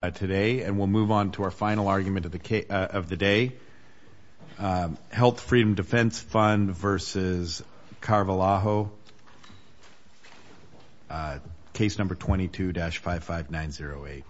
And we'll move on to our final argument of the day. Health Freedom Defense Fund v. Carvalho, Case No. 22-55908.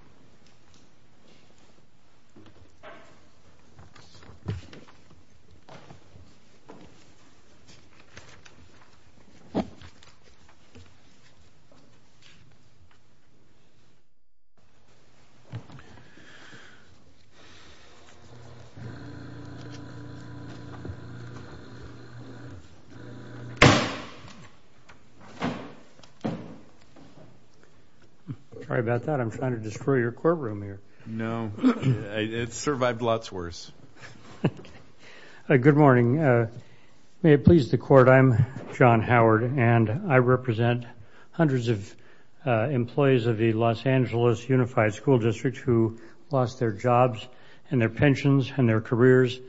I'm sorry about that. I'm trying to destroy your courtroom here. No, it's survived lots worse. Good morning. May it please the Court, I'm John Howard, and I represent hundreds of employees of the Los Angeles Unified School District who lost their jobs and their pensions and their careers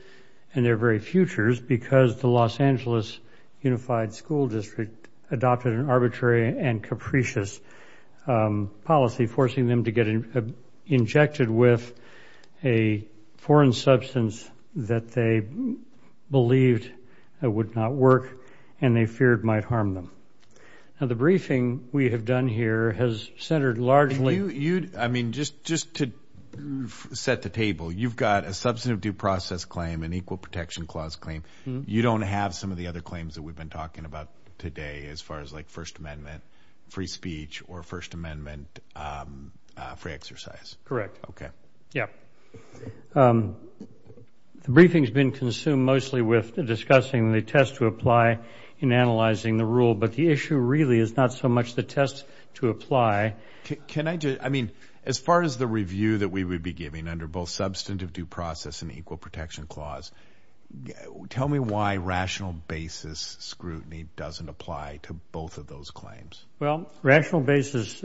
and their very futures because the Los Angeles Unified School District adopted an arbitrary and capricious policy, forcing them to get injected with a foreign substance that they believed would not work and they feared might harm them. Now, the briefing we have done here has centered largely... I mean, just to set the table, you've got a substantive due process claim, an Equal Protection Clause claim. You don't have some of the other claims that we've been talking about today as far as, like, First Amendment free speech or First Amendment free exercise. Correct. Okay. Yeah. The briefing's been consumed mostly with discussing the test to apply in analyzing the rule, but the issue really is not so much the test to apply. Okay. Can I just, I mean, as far as the review that we would be giving under both substantive due process and Equal Protection Clause, tell me why rational basis scrutiny doesn't apply to both of those claims. Well, rational basis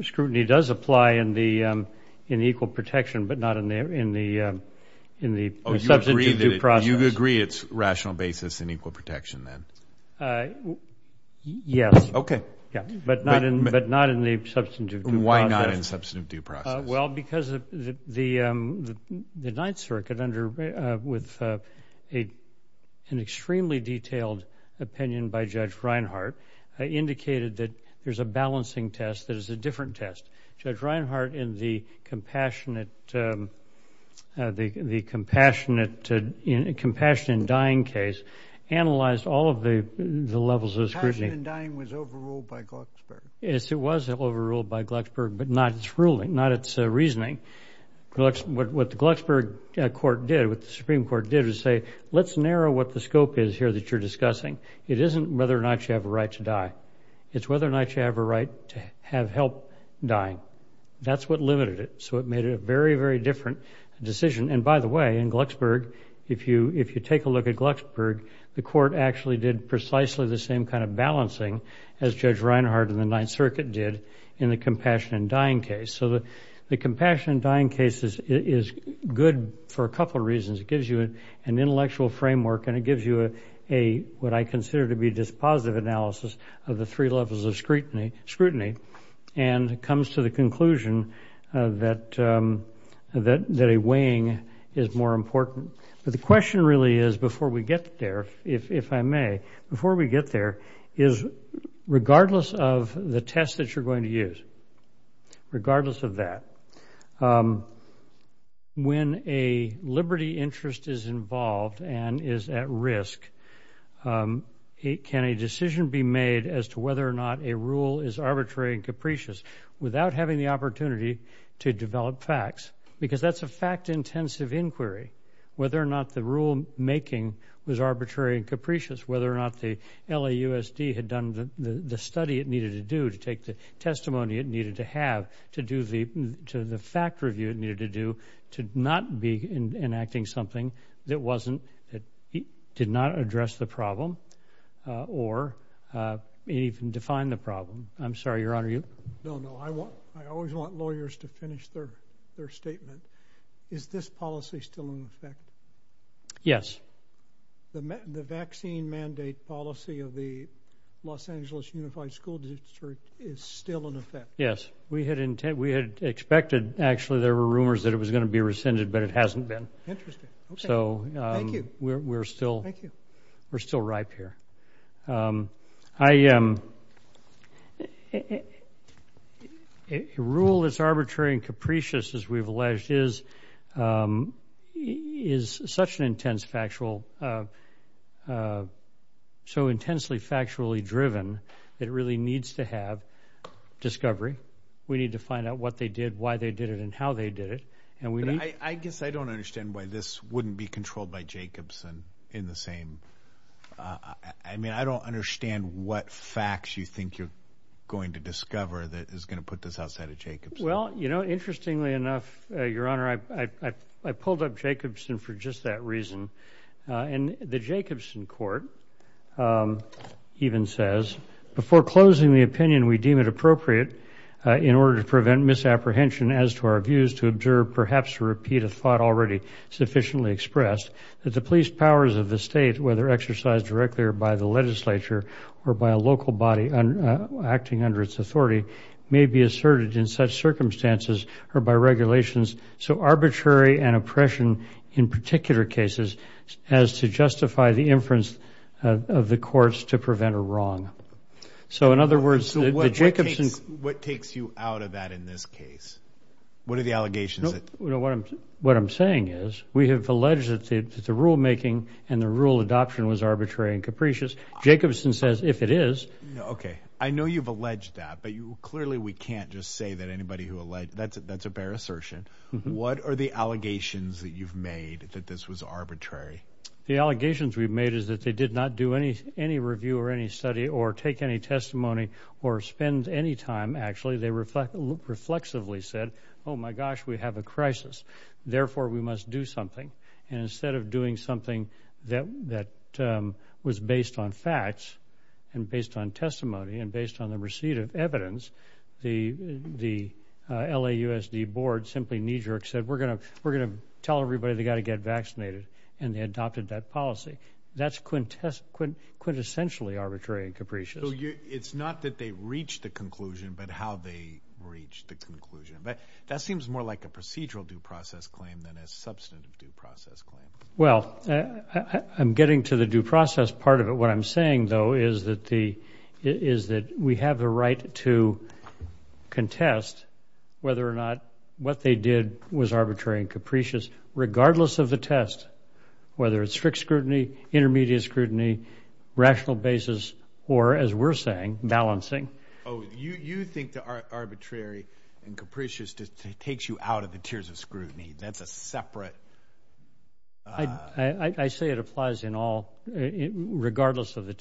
scrutiny does apply in the Equal Protection, but not in the substantive due process. Oh, you agree it's rational basis in Equal Protection then? Yes. Okay. Yeah. But not in the substantive due process. Why not in substantive due process? Well, because the Ninth Circuit, with an extremely detailed opinion by Judge Reinhart, indicated that there's a balancing test that is a different test. Judge Reinhart, in the Compassion in Dying case, analyzed all of the levels of scrutiny. Compassion in Dying was overruled by Glucksberg. Yes, it was overruled by Glucksberg, but not its ruling, not its reasoning. What the Glucksberg court did, what the Supreme Court did, was say let's narrow what the scope is here that you're discussing. It isn't whether or not you have a right to die. It's whether or not you have a right to have help dying. That's what limited it, so it made it a very, very different decision. And, by the way, in Glucksberg, if you take a look at Glucksberg, the court actually did precisely the same kind of balancing as Judge Reinhart in the Ninth Circuit did in the Compassion in Dying case. So the Compassion in Dying case is good for a couple of reasons. It gives you an intellectual framework, and it gives you what I consider to be a dispositive analysis of the three levels of scrutiny, and comes to the conclusion that a weighing is more important. But the question really is before we get there, if I may, before we get there is regardless of the test that you're going to use, regardless of that, when a liberty interest is involved and is at risk, can a decision be made as to whether or not a rule is arbitrary and capricious without having the opportunity to develop facts? Because that's a fact-intensive inquiry, whether or not the rulemaking was arbitrary and capricious, whether or not the LAUSD had done the study it needed to do to take the testimony it needed to have to the fact review it needed to do to not be enacting something that did not address the problem or even define the problem. I'm sorry, Your Honor. No, no. I always want lawyers to finish their statement. Is this policy still in effect? Yes. The vaccine mandate policy of the Los Angeles Unified School District is still in effect? Yes. We had expected actually there were rumors that it was going to be rescinded, but it hasn't been. Interesting. Okay. Thank you. We're still ripe here. A rule that's arbitrary and capricious, as we've alleged, is such an intense factual so intensely factually driven that it really needs to have discovery. We need to find out what they did, why they did it, and how they did it. I guess I don't understand why this wouldn't be controlled by Jacobson in the same way. I mean, I don't understand what facts you think you're going to discover that is going to put this outside of Jacobson. Well, you know, interestingly enough, Your Honor, I pulled up Jacobson for just that reason. The Jacobson court even says, before closing the opinion we deem it appropriate in order to prevent misapprehension as to our views, to observe perhaps a repeat of thought already sufficiently expressed, that the police powers of the state, whether exercised directly or by the legislature or by a local body acting under its authority, may be asserted in such circumstances or by regulations so arbitrary and oppression in particular cases as to justify the inference of the courts to prevent a wrong. So, in other words, the Jacobson – What takes you out of that in this case? What are the allegations that – What I'm saying is we have alleged that the rulemaking and the rule adoption was arbitrary and capricious. Jacobson says if it is – Okay. I know you've alleged that, but clearly we can't just say that anybody who alleged – that's a bare assertion. What are the allegations that you've made that this was arbitrary? The allegations we've made is that they did not do any review or any study or take any testimony or spend any time, actually. They reflexively said, oh, my gosh, we have a crisis. Therefore, we must do something. And instead of doing something that was based on facts and based on testimony and based on the receipt of evidence, the LAUSD board simply knee-jerk said, we're going to tell everybody they've got to get vaccinated, and they adopted that policy. That's quintessentially arbitrary and capricious. So it's not that they reached the conclusion, but how they reached the conclusion. That seems more like a procedural due process claim than a substantive due process claim. Well, I'm getting to the due process part of it. What I'm saying, though, is that we have the right to contest whether or not what they did was arbitrary and capricious, regardless of the test, whether it's strict scrutiny, intermediate scrutiny, rational basis, or as we're saying, balancing. Oh, you think the arbitrary and capricious takes you out of the tiers of scrutiny. That's a separate... I say it applies in all, regardless of the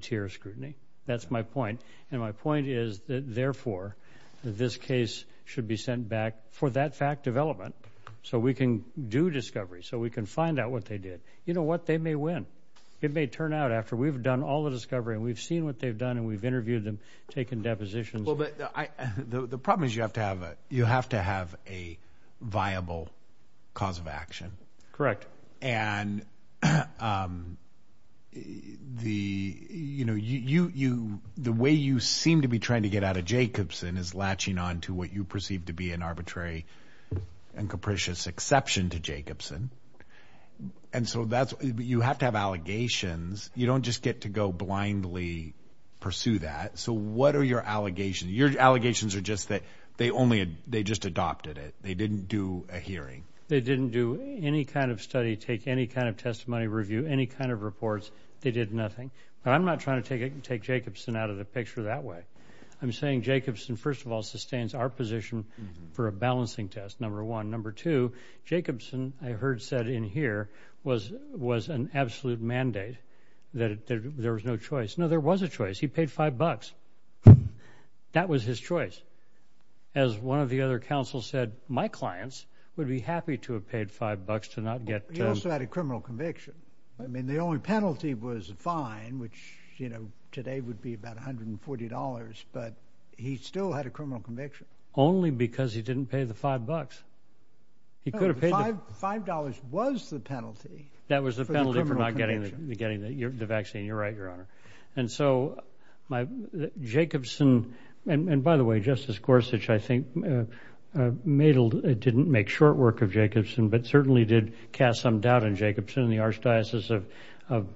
tier of scrutiny. That's my point. And my point is that, therefore, this case should be sent back for that fact of element so we can do discovery, so we can find out what they did. You know what, they may win. It may turn out after we've done all the discovery and we've seen what they've done and we've interviewed them, taken depositions. Well, but the problem is you have to have a viable cause of action. Correct. And the way you seem to be trying to get out of Jacobson is latching on to what you perceive to be an arbitrary and capricious exception to Jacobson. And so you have to have allegations. You don't just get to go blindly pursue that. So what are your allegations? Your allegations are just that they just adopted it. They didn't do a hearing. They didn't do any kind of study, take any kind of testimony review, any kind of reports. They did nothing. But I'm not trying to take Jacobson out of the picture that way. I'm saying Jacobson, first of all, sustains our position for a balancing test, number one. Number two, Jacobson, I heard said in here, was an absolute mandate that there was no choice. No, there was a choice. He paid $5. That was his choice. As one of the other counsels said, my clients would be happy to have paid $5 to not get to them. He also had a criminal conviction. I mean, the only penalty was a fine, which, you know, today would be about $140. But he still had a criminal conviction. Only because he didn't pay the five bucks. No, $5 was the penalty. That was the penalty for not getting the vaccine. You're right, Your Honor. And so Jacobson, and by the way, Justice Gorsuch, I think Madel didn't make short work of Jacobson, but certainly did cast some doubt in Jacobson in the Archdiocese of and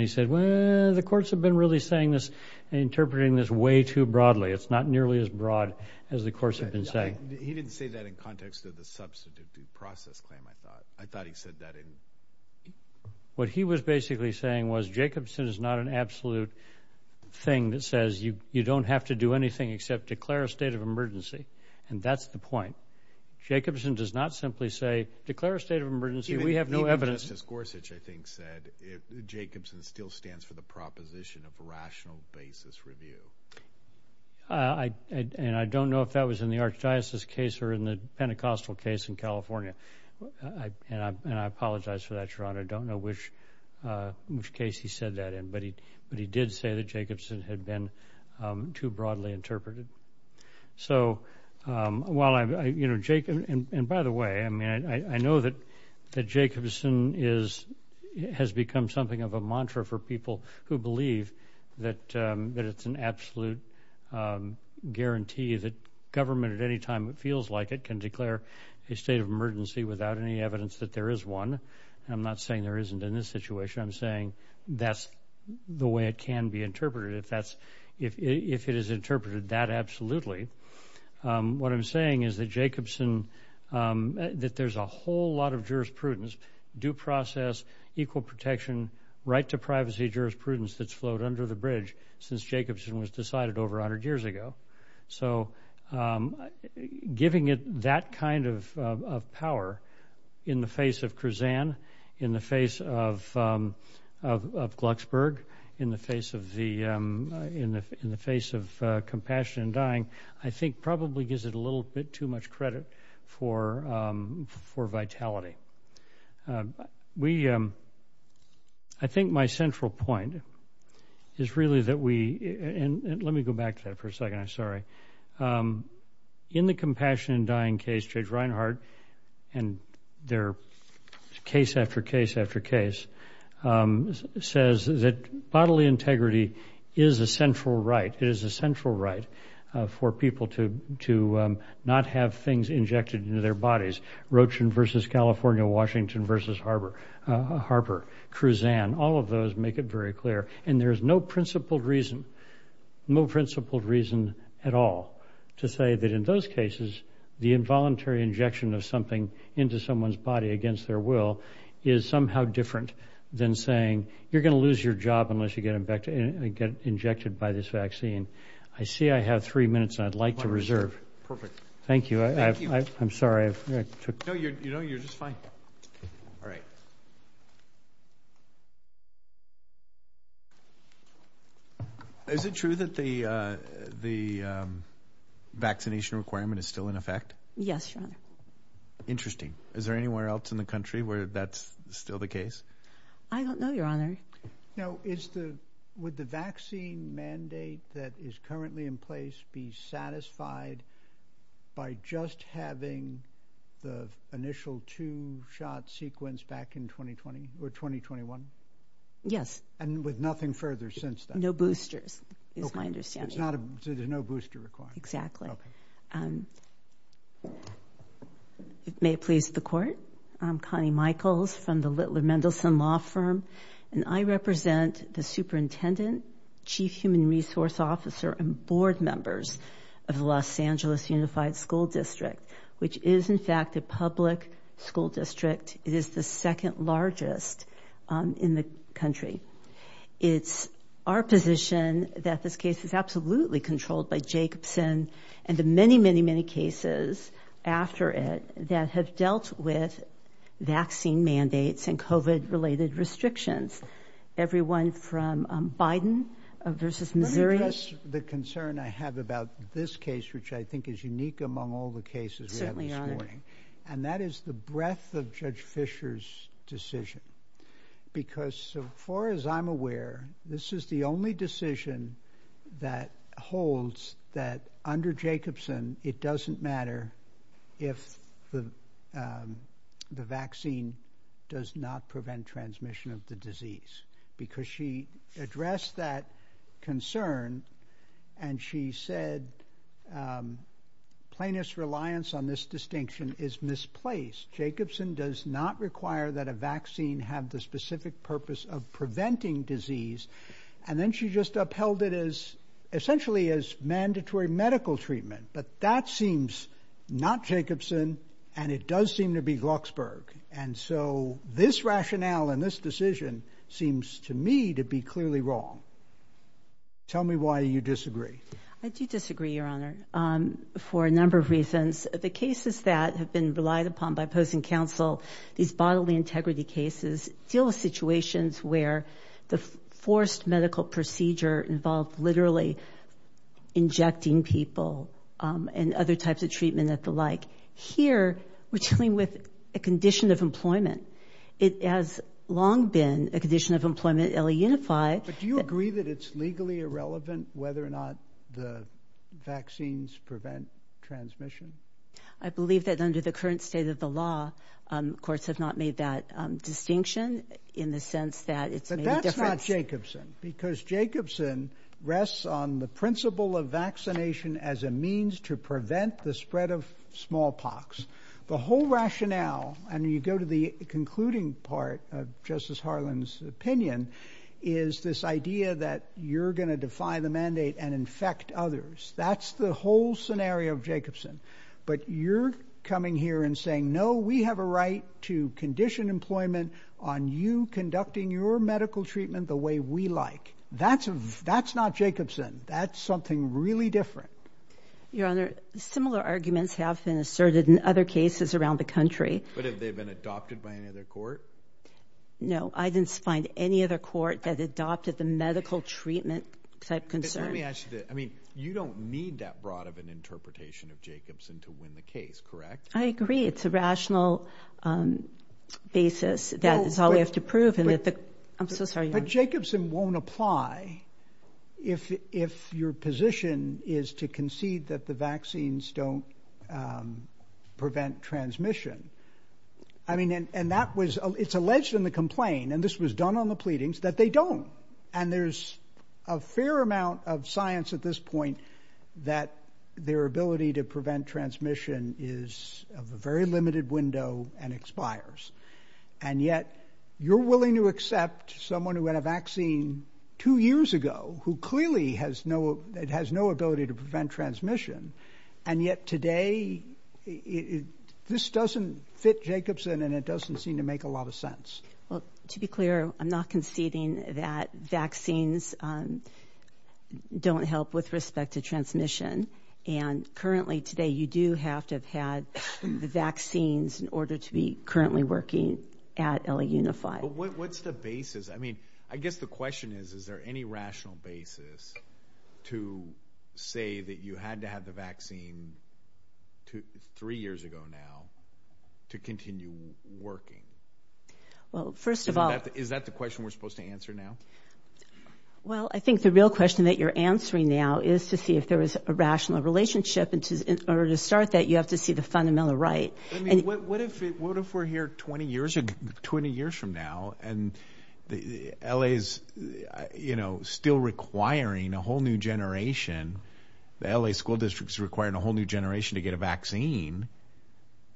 he said, well, the courts have been really saying this, interpreting this way too broadly. It's not nearly as broad as the courts have been saying. He didn't say that in context of the substantive due process claim, I thought. I thought he said that in – What he was basically saying was Jacobson is not an absolute thing that says you don't have to do anything except declare a state of emergency, and that's the point. Jacobson does not simply say declare a state of emergency. We have no evidence. Justice Gorsuch, I think, said Jacobson still stands for the proposition of rational basis review. And I don't know if that was in the Archdiocese case or in the Pentecostal case in California, and I apologize for that, Your Honor. I don't know which case he said that in, but he did say that Jacobson had been too broadly interpreted. So while I'm – and, by the way, I know that Jacobson has become something of a mantra for people who believe that it's an absolute guarantee that government at any time it feels like it can declare a state of emergency without any evidence that there is one. I'm not saying there isn't in this situation. If it is interpreted that absolutely. What I'm saying is that Jacobson – that there's a whole lot of jurisprudence, due process, equal protection, right-to-privacy jurisprudence that's flowed under the bridge since Jacobson was decided over 100 years ago. So giving it that kind of power in the face of Kruzan, in the face of Glucksburg, in the face of Compassion in Dying, I think probably gives it a little bit too much credit for vitality. We – I think my central point is really that we – and let me go back to that for a second, I'm sorry. In the Compassion in Dying case, Judge Reinhart, and their case after case after case, says that bodily integrity is a central right. It is a central right for people to not have things injected into their bodies. Roach versus California, Washington versus Harper, Kruzan, all of those make it very clear. And there's no principled reason at all to say that in those cases the involuntary injection of something into someone's body against their will is somehow different than saying you're going to lose your job unless you get injected by this vaccine. I see I have three minutes, and I'd like to reserve. Perfect. Thank you. I'm sorry. No, you're just fine. All right. Is it true that the vaccination requirement is still in effect? Yes, Your Honor. Interesting. Is there anywhere else in the country where that's still the case? I don't know, Your Honor. Now, is the – would the vaccine mandate that is currently in place be satisfied by just having the initial two-shot sequence back in 2020 or 2021? Yes. And with nothing further since then? No boosters is my understanding. Okay. So there's no booster required. Exactly. Okay. May it please the Court, I'm Connie Michaels from the Littler Mendelsohn Law Firm, and I represent the superintendent, chief human resource officer, and board members of the Los Angeles Unified School District, which is, in fact, a public school district. It is the second largest in the country. It's our position that this case is absolutely controlled by Jacobson and the many, many, many cases after it that have dealt with vaccine mandates and COVID-related restrictions. Everyone from Biden versus Missouri. Let me address the concern I have about this case, which I think is unique among all the cases we have this morning. Certainly, Your Honor. And that is the breadth of Judge Fischer's decision because as far as I'm aware, this is the only decision that holds that under Jacobson, it doesn't matter if the vaccine does not prevent transmission of the disease because she addressed that concern, and she said plaintiff's reliance on this distinction is misplaced. Jacobson does not require that a vaccine have the specific purpose of preventing disease, and then she just upheld it as essentially as mandatory medical treatment, but that seems not Jacobson, and it does seem to be Glucksberg. And so this rationale in this decision seems to me to be clearly wrong. Tell me why you disagree. I do disagree, Your Honor, for a number of reasons. The cases that have been relied upon by opposing counsel, these bodily integrity cases deal with situations where the forced medical procedure involves literally injecting people and other types of treatment and the like. Here, we're dealing with a condition of employment. It has long been a condition of employment, LA Unified. But do you agree that it's legally irrelevant whether or not the vaccines prevent transmission? I believe that under the current state of the law, courts have not made that distinction in the sense that it's made a difference. That's not Jacobson because Jacobson rests on the principle of vaccination as a means to prevent the spread of smallpox. The whole rationale, and you go to the concluding part of Justice Harlan's opinion, is this idea that you're going to defy the mandate and infect others. That's the whole scenario of Jacobson. But you're coming here and saying, no, we have a right to condition employment on you conducting your medical treatment the way we like. That's not Jacobson. That's something really different. Your Honor, similar arguments have been asserted in other cases around the country. But have they been adopted by any other court? No, I didn't find any other court that adopted the medical treatment type concern. Let me ask you this. I mean, you don't need that broad of an interpretation of Jacobson to win the case, correct? I agree. It's a rational basis. That is all we have to prove. I'm so sorry. But Jacobson won't apply if your position is to concede that the vaccines don't prevent transmission. I mean, and that was it's alleged in the complaint, and this was done on the pleadings, that they don't. And there's a fair amount of science at this point that their ability to prevent transmission is of a very limited window and expires. And yet you're willing to accept someone who had a vaccine two years ago who clearly has no it has no ability to prevent transmission. And yet today this doesn't fit Jacobson and it doesn't seem to make a lot of sense. Well, to be clear, I'm not conceding that vaccines don't help with respect to transmission. And currently today you do have to have had the vaccines in order to be currently working at LA Unified. What's the basis? I mean, I guess the question is, is there any rational basis to say that you had to have the vaccine three years ago now to continue working? Well, first of all, is that the question we're supposed to answer now? Well, I think the real question that you're answering now is to see if there is a rational relationship. And in order to start that, you have to see the fundamental right. And what if what if we're here 20 years, 20 years from now and the L.A.'s, you know, still requiring a whole new generation? The L.A. school districts requiring a whole new generation to get a vaccine.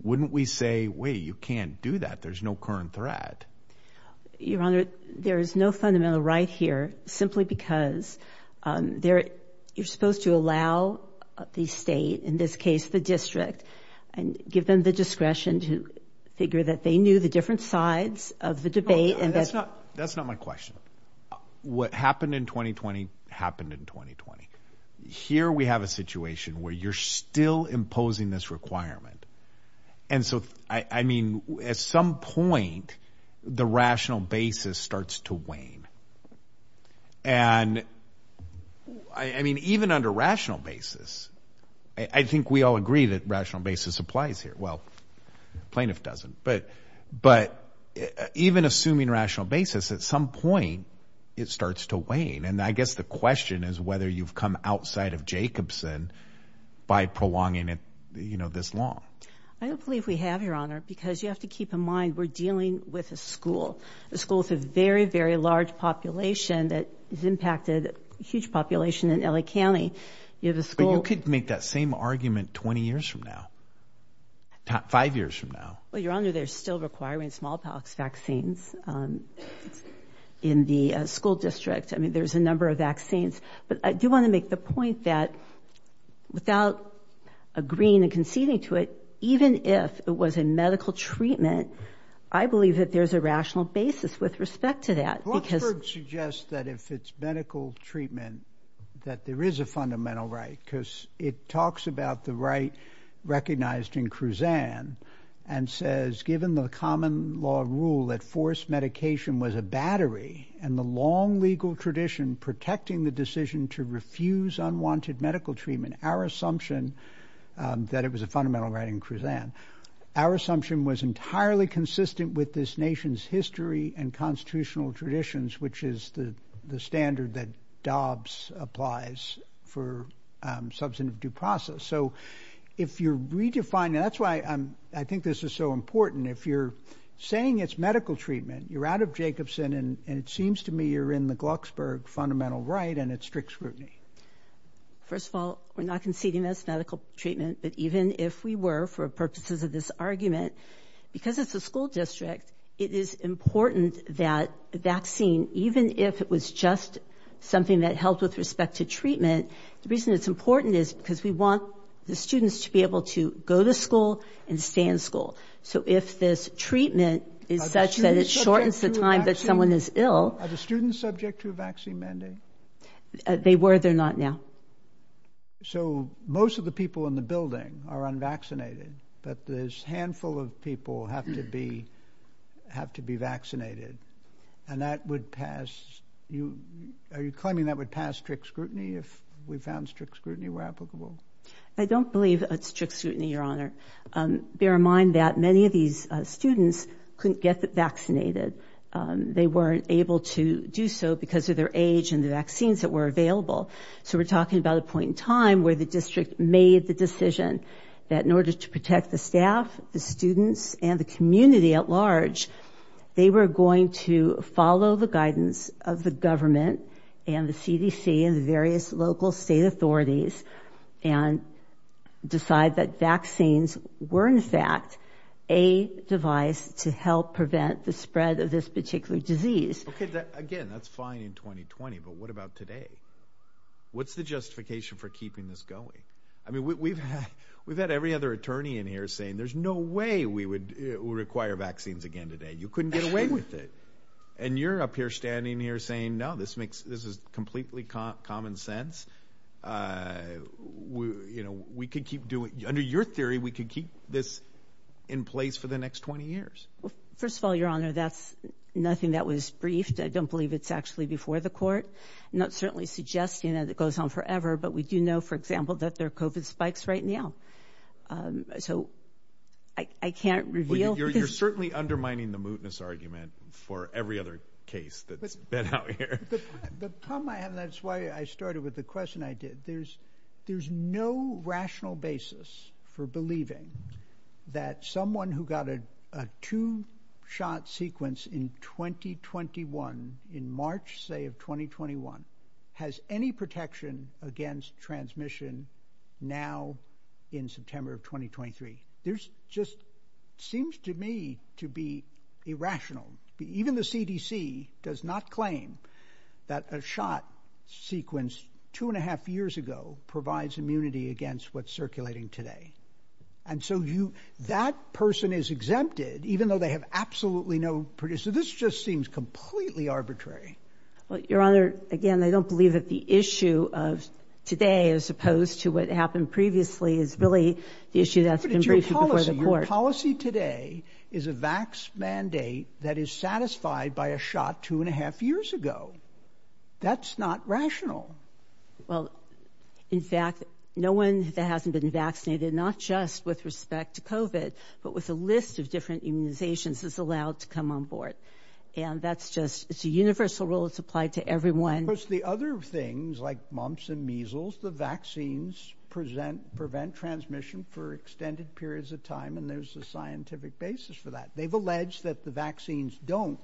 Wouldn't we say, wait, you can't do that. There's no current threat. Your Honor, there is no fundamental right here simply because there you're supposed to allow the state, in this case, the district, and give them the discretion to figure that they knew the different sides of the debate. And that's not that's not my question. What happened in 2020 happened in 2020. Here we have a situation where you're still imposing this requirement. And so, I mean, at some point, the rational basis starts to wane. And I mean, even under rational basis, I think we all agree that rational basis applies here. Well, plaintiff doesn't. But but even assuming rational basis, at some point it starts to wane. And I guess the question is whether you've come outside of Jacobson by prolonging it this long. I don't believe we have, Your Honor, because you have to keep in mind we're dealing with a school, a school with a very, very large population that has impacted a huge population in L.A. County. You have a school. You could make that same argument 20 years from now, five years from now. Well, Your Honor, they're still requiring smallpox vaccines in the school district. I mean, there's a number of vaccines. But I do want to make the point that without agreeing and conceding to it, even if it was a medical treatment, I believe that there's a rational basis with respect to that. Because it suggests that if it's medical treatment, that there is a fundamental right, because it talks about the right recognized in Kruzan and says, given the common law rule that forced medication was a battery and the long legal tradition protecting the decision to refuse unwanted medical treatment, our assumption that it was a fundamental right in Kruzan, our assumption was entirely consistent with this nation's history and constitutional traditions, which is the standard that Dobbs applies for substantive due process. So if you're redefining that's why I think this is so important. If you're saying it's medical treatment, you're out of Jacobson. And it seems to me you're in the Glucksburg fundamental right and it's strict scrutiny. First of all, we're not conceding this medical treatment. But even if we were for purposes of this argument, because it's a school district, it is important that vaccine, even if it was just something that helped with respect to treatment. The reason it's important is because we want the students to be able to go to school and stay in school. So if this treatment is such that it shortens the time that someone is ill. Are the students subject to a vaccine mandate? They were. They're not now. So most of the people in the building are unvaccinated, but this handful of people have to be have to be vaccinated. And that would pass you. Are you claiming that would pass strict scrutiny if we found strict scrutiny were applicable? I don't believe it's strict scrutiny, Your Honor. Bear in mind that many of these students couldn't get vaccinated. They weren't able to do so because of their age and the vaccines that were available. So we're talking about a point in time where the district made the decision that in order to protect the staff, the students and the community at large, they were going to follow the guidance of the government and the CDC and the various local state authorities and decide that vaccines were, in fact, a device to help prevent the spread of this particular disease. OK, again, that's fine in 2020. But what about today? What's the justification for keeping this going? I mean, we've had we've had every other attorney in here saying there's no way we would require vaccines again today. You couldn't get away with it. And you're up here standing here saying, no, this makes this is completely common sense. You know, we could keep doing under your theory, we could keep this in place for the next 20 years. First of all, Your Honor, that's nothing that was briefed. I don't believe it's actually before the court, not certainly suggesting that it goes on forever. But we do know, for example, that there are covid spikes right now. So I can't reveal. Well, you're certainly undermining the mootness argument for every other case that's been out here. The problem I have, and that's why I started with the question I did. There's there's no rational basis for believing that someone who got a two shot sequence in 2021 in March, say of 2021, has any protection against transmission now in September of 2023. There's just seems to me to be irrational. Even the CDC does not claim that a shot sequence two and a half years ago provides immunity against what's circulating today. And so you that person is exempted, even though they have absolutely no. So this just seems completely arbitrary. Well, Your Honor, again, I don't believe that the issue of today, as opposed to what happened previously, is really the issue. Your policy today is a vax mandate that is satisfied by a shot two and a half years ago. That's not rational. Well, in fact, no one that hasn't been vaccinated, not just with respect to covid, but with a list of different immunizations is allowed to come on board. And that's just it's a universal rule. It's applied to everyone. Because the other things like mumps and measles, the vaccines present prevent transmission for extended periods of time. And there's a scientific basis for that. They've alleged that the vaccines don't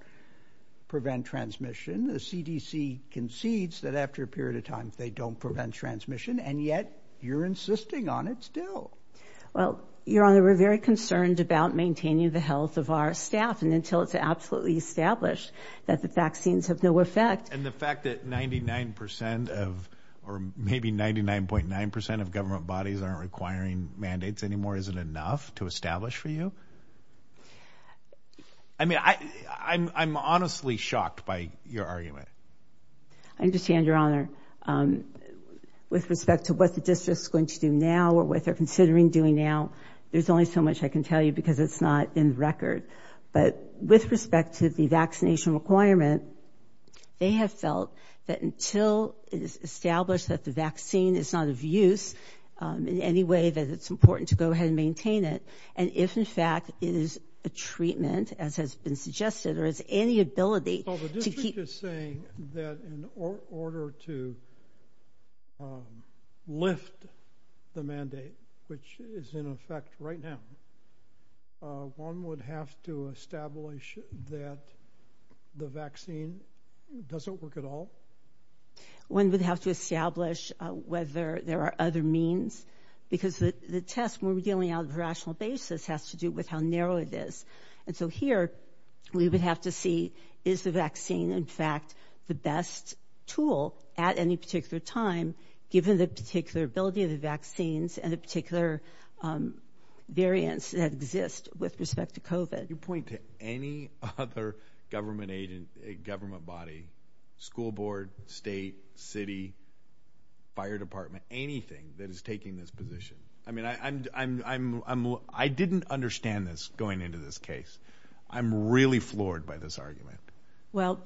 prevent transmission. The CDC concedes that after a period of time, they don't prevent transmission. And yet you're insisting on it still. Well, Your Honor, we're very concerned about maintaining the health of our staff. And until it's absolutely established that the vaccines have no effect. And the fact that ninety nine percent of or maybe ninety nine point nine percent of government bodies aren't requiring mandates anymore. Is it enough to establish for you? I mean, I'm honestly shocked by your argument. I understand, Your Honor. With respect to what the district is going to do now or what they're considering doing now, there's only so much I can tell you because it's not in record. But with respect to the vaccination requirement, they have felt that until it is established that the vaccine is not of use in any way, that it's important to go ahead and maintain it. And if, in fact, it is a treatment, as has been suggested, there is any ability to keep saying that in order to lift the mandate, which is in effect right now. One would have to establish that the vaccine doesn't work at all. One would have to establish whether there are other means because the test we're dealing on a rational basis has to do with how narrow it is. And so here we would have to see, is the vaccine, in fact, the best tool at any particular time, given the particular ability of the vaccines and the particular variants that exist with respect to COVID. Can you point to any other government body, school board, state, city, fire department, anything that is taking this position? I mean, I didn't understand this going into this case. I'm really floored by this argument. Well,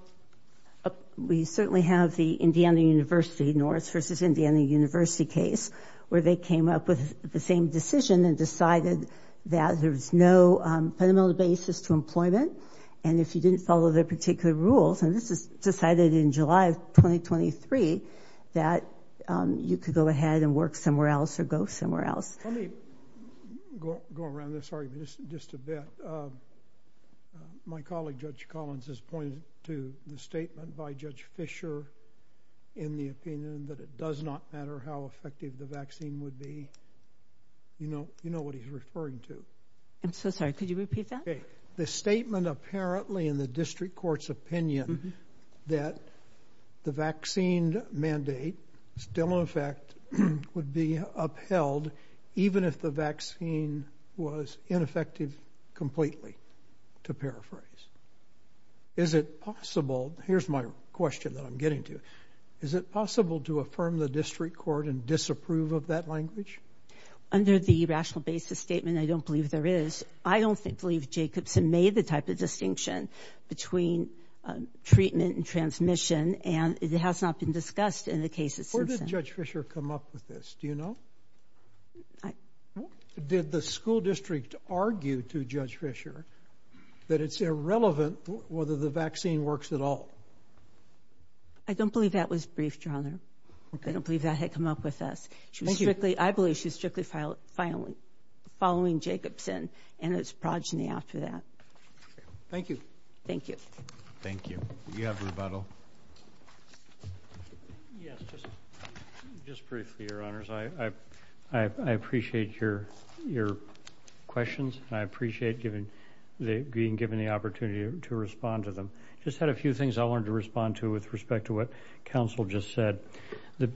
we certainly have the Indiana University-North versus Indiana University case, where they came up with the same decision and decided that there's no fundamental basis to employment. And if you didn't follow the particular rules, and this is decided in July of 2023, that you could go ahead and work somewhere else or go somewhere else. Let me go around this argument just a bit. My colleague, Judge Collins, has pointed to the statement by Judge Fisher in the opinion that it does not matter how effective the vaccine would be. You know what he's referring to. I'm so sorry. Could you repeat that? Okay. The statement apparently in the district court's opinion that the vaccine mandate still in effect would be upheld, even if the vaccine was ineffective completely, to paraphrase. Is it possible, here's my question that I'm getting to, is it possible to affirm the district court and disapprove of that language? Under the rational basis statement, I don't believe there is. I don't believe Jacobson made the type of distinction between treatment and transmission, and it has not been discussed in the cases since then. Where did Judge Fisher come up with this? Do you know? Did the school district argue to Judge Fisher that it's irrelevant whether the vaccine works at all? I don't believe that was briefed, Your Honor. I don't believe that had come up with us. I believe she was strictly following Jacobson, and it's progeny after that. Thank you. Thank you. Thank you. Do you have rebuttal? Yes, just briefly, Your Honors. I appreciate your questions, and I appreciate being given the opportunity to respond to them. I just had a few things I wanted to respond to with respect to what counsel just said. The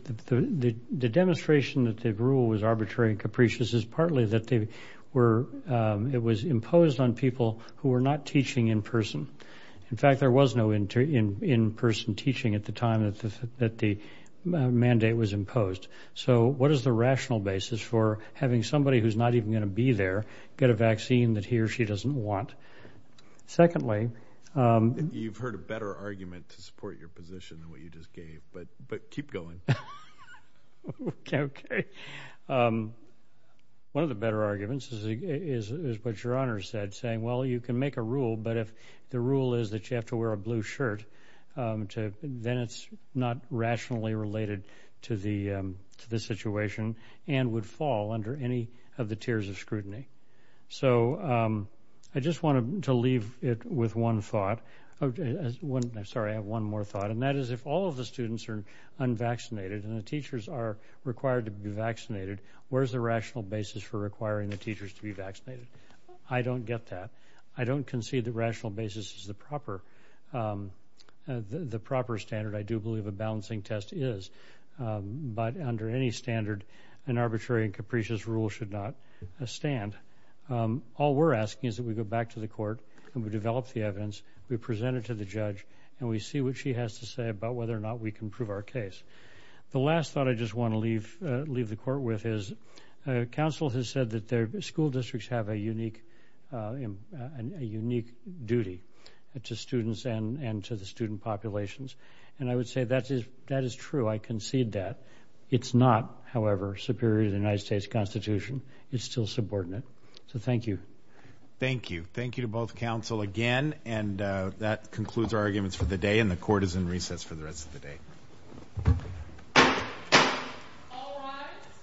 demonstration that the rule was arbitrary and capricious is partly that it was imposed on people who were not teaching in person. In fact, there was no in-person teaching at the time that the mandate was imposed. So what is the rational basis for having somebody who's not even going to be there get a vaccine that he or she doesn't want? Secondly, You've heard a better argument to support your position than what you just gave, but keep going. Okay. One of the better arguments is what Your Honor said, saying, well, you can make a rule, but if the rule is that you have to wear a blue shirt, then it's not rationally related to the situation and would fall under any of the tiers of scrutiny. So I just wanted to leave it with one thought. Sorry, I have one more thought, and that is if all of the students are unvaccinated and the teachers are required to be vaccinated, where's the rational basis for requiring the teachers to be vaccinated? I don't get that. I don't concede the rational basis is the proper standard. I do believe a balancing test is, but under any standard, an arbitrary and capricious rule should not stand. All we're asking is that we go back to the court and we develop the evidence, we present it to the judge, and we see what she has to say about whether or not we can prove our case. The last thought I just want to leave the court with is, counsel has said that their school districts have a unique duty to students and to the student populations. And I would say that is true. I concede that. It's not, however, superior to the United States Constitution. It's still subordinate. So thank you. Thank you. Thank you to both counsel again. And that concludes our arguments for the day, and the court is in recess for the rest of the day. All rise.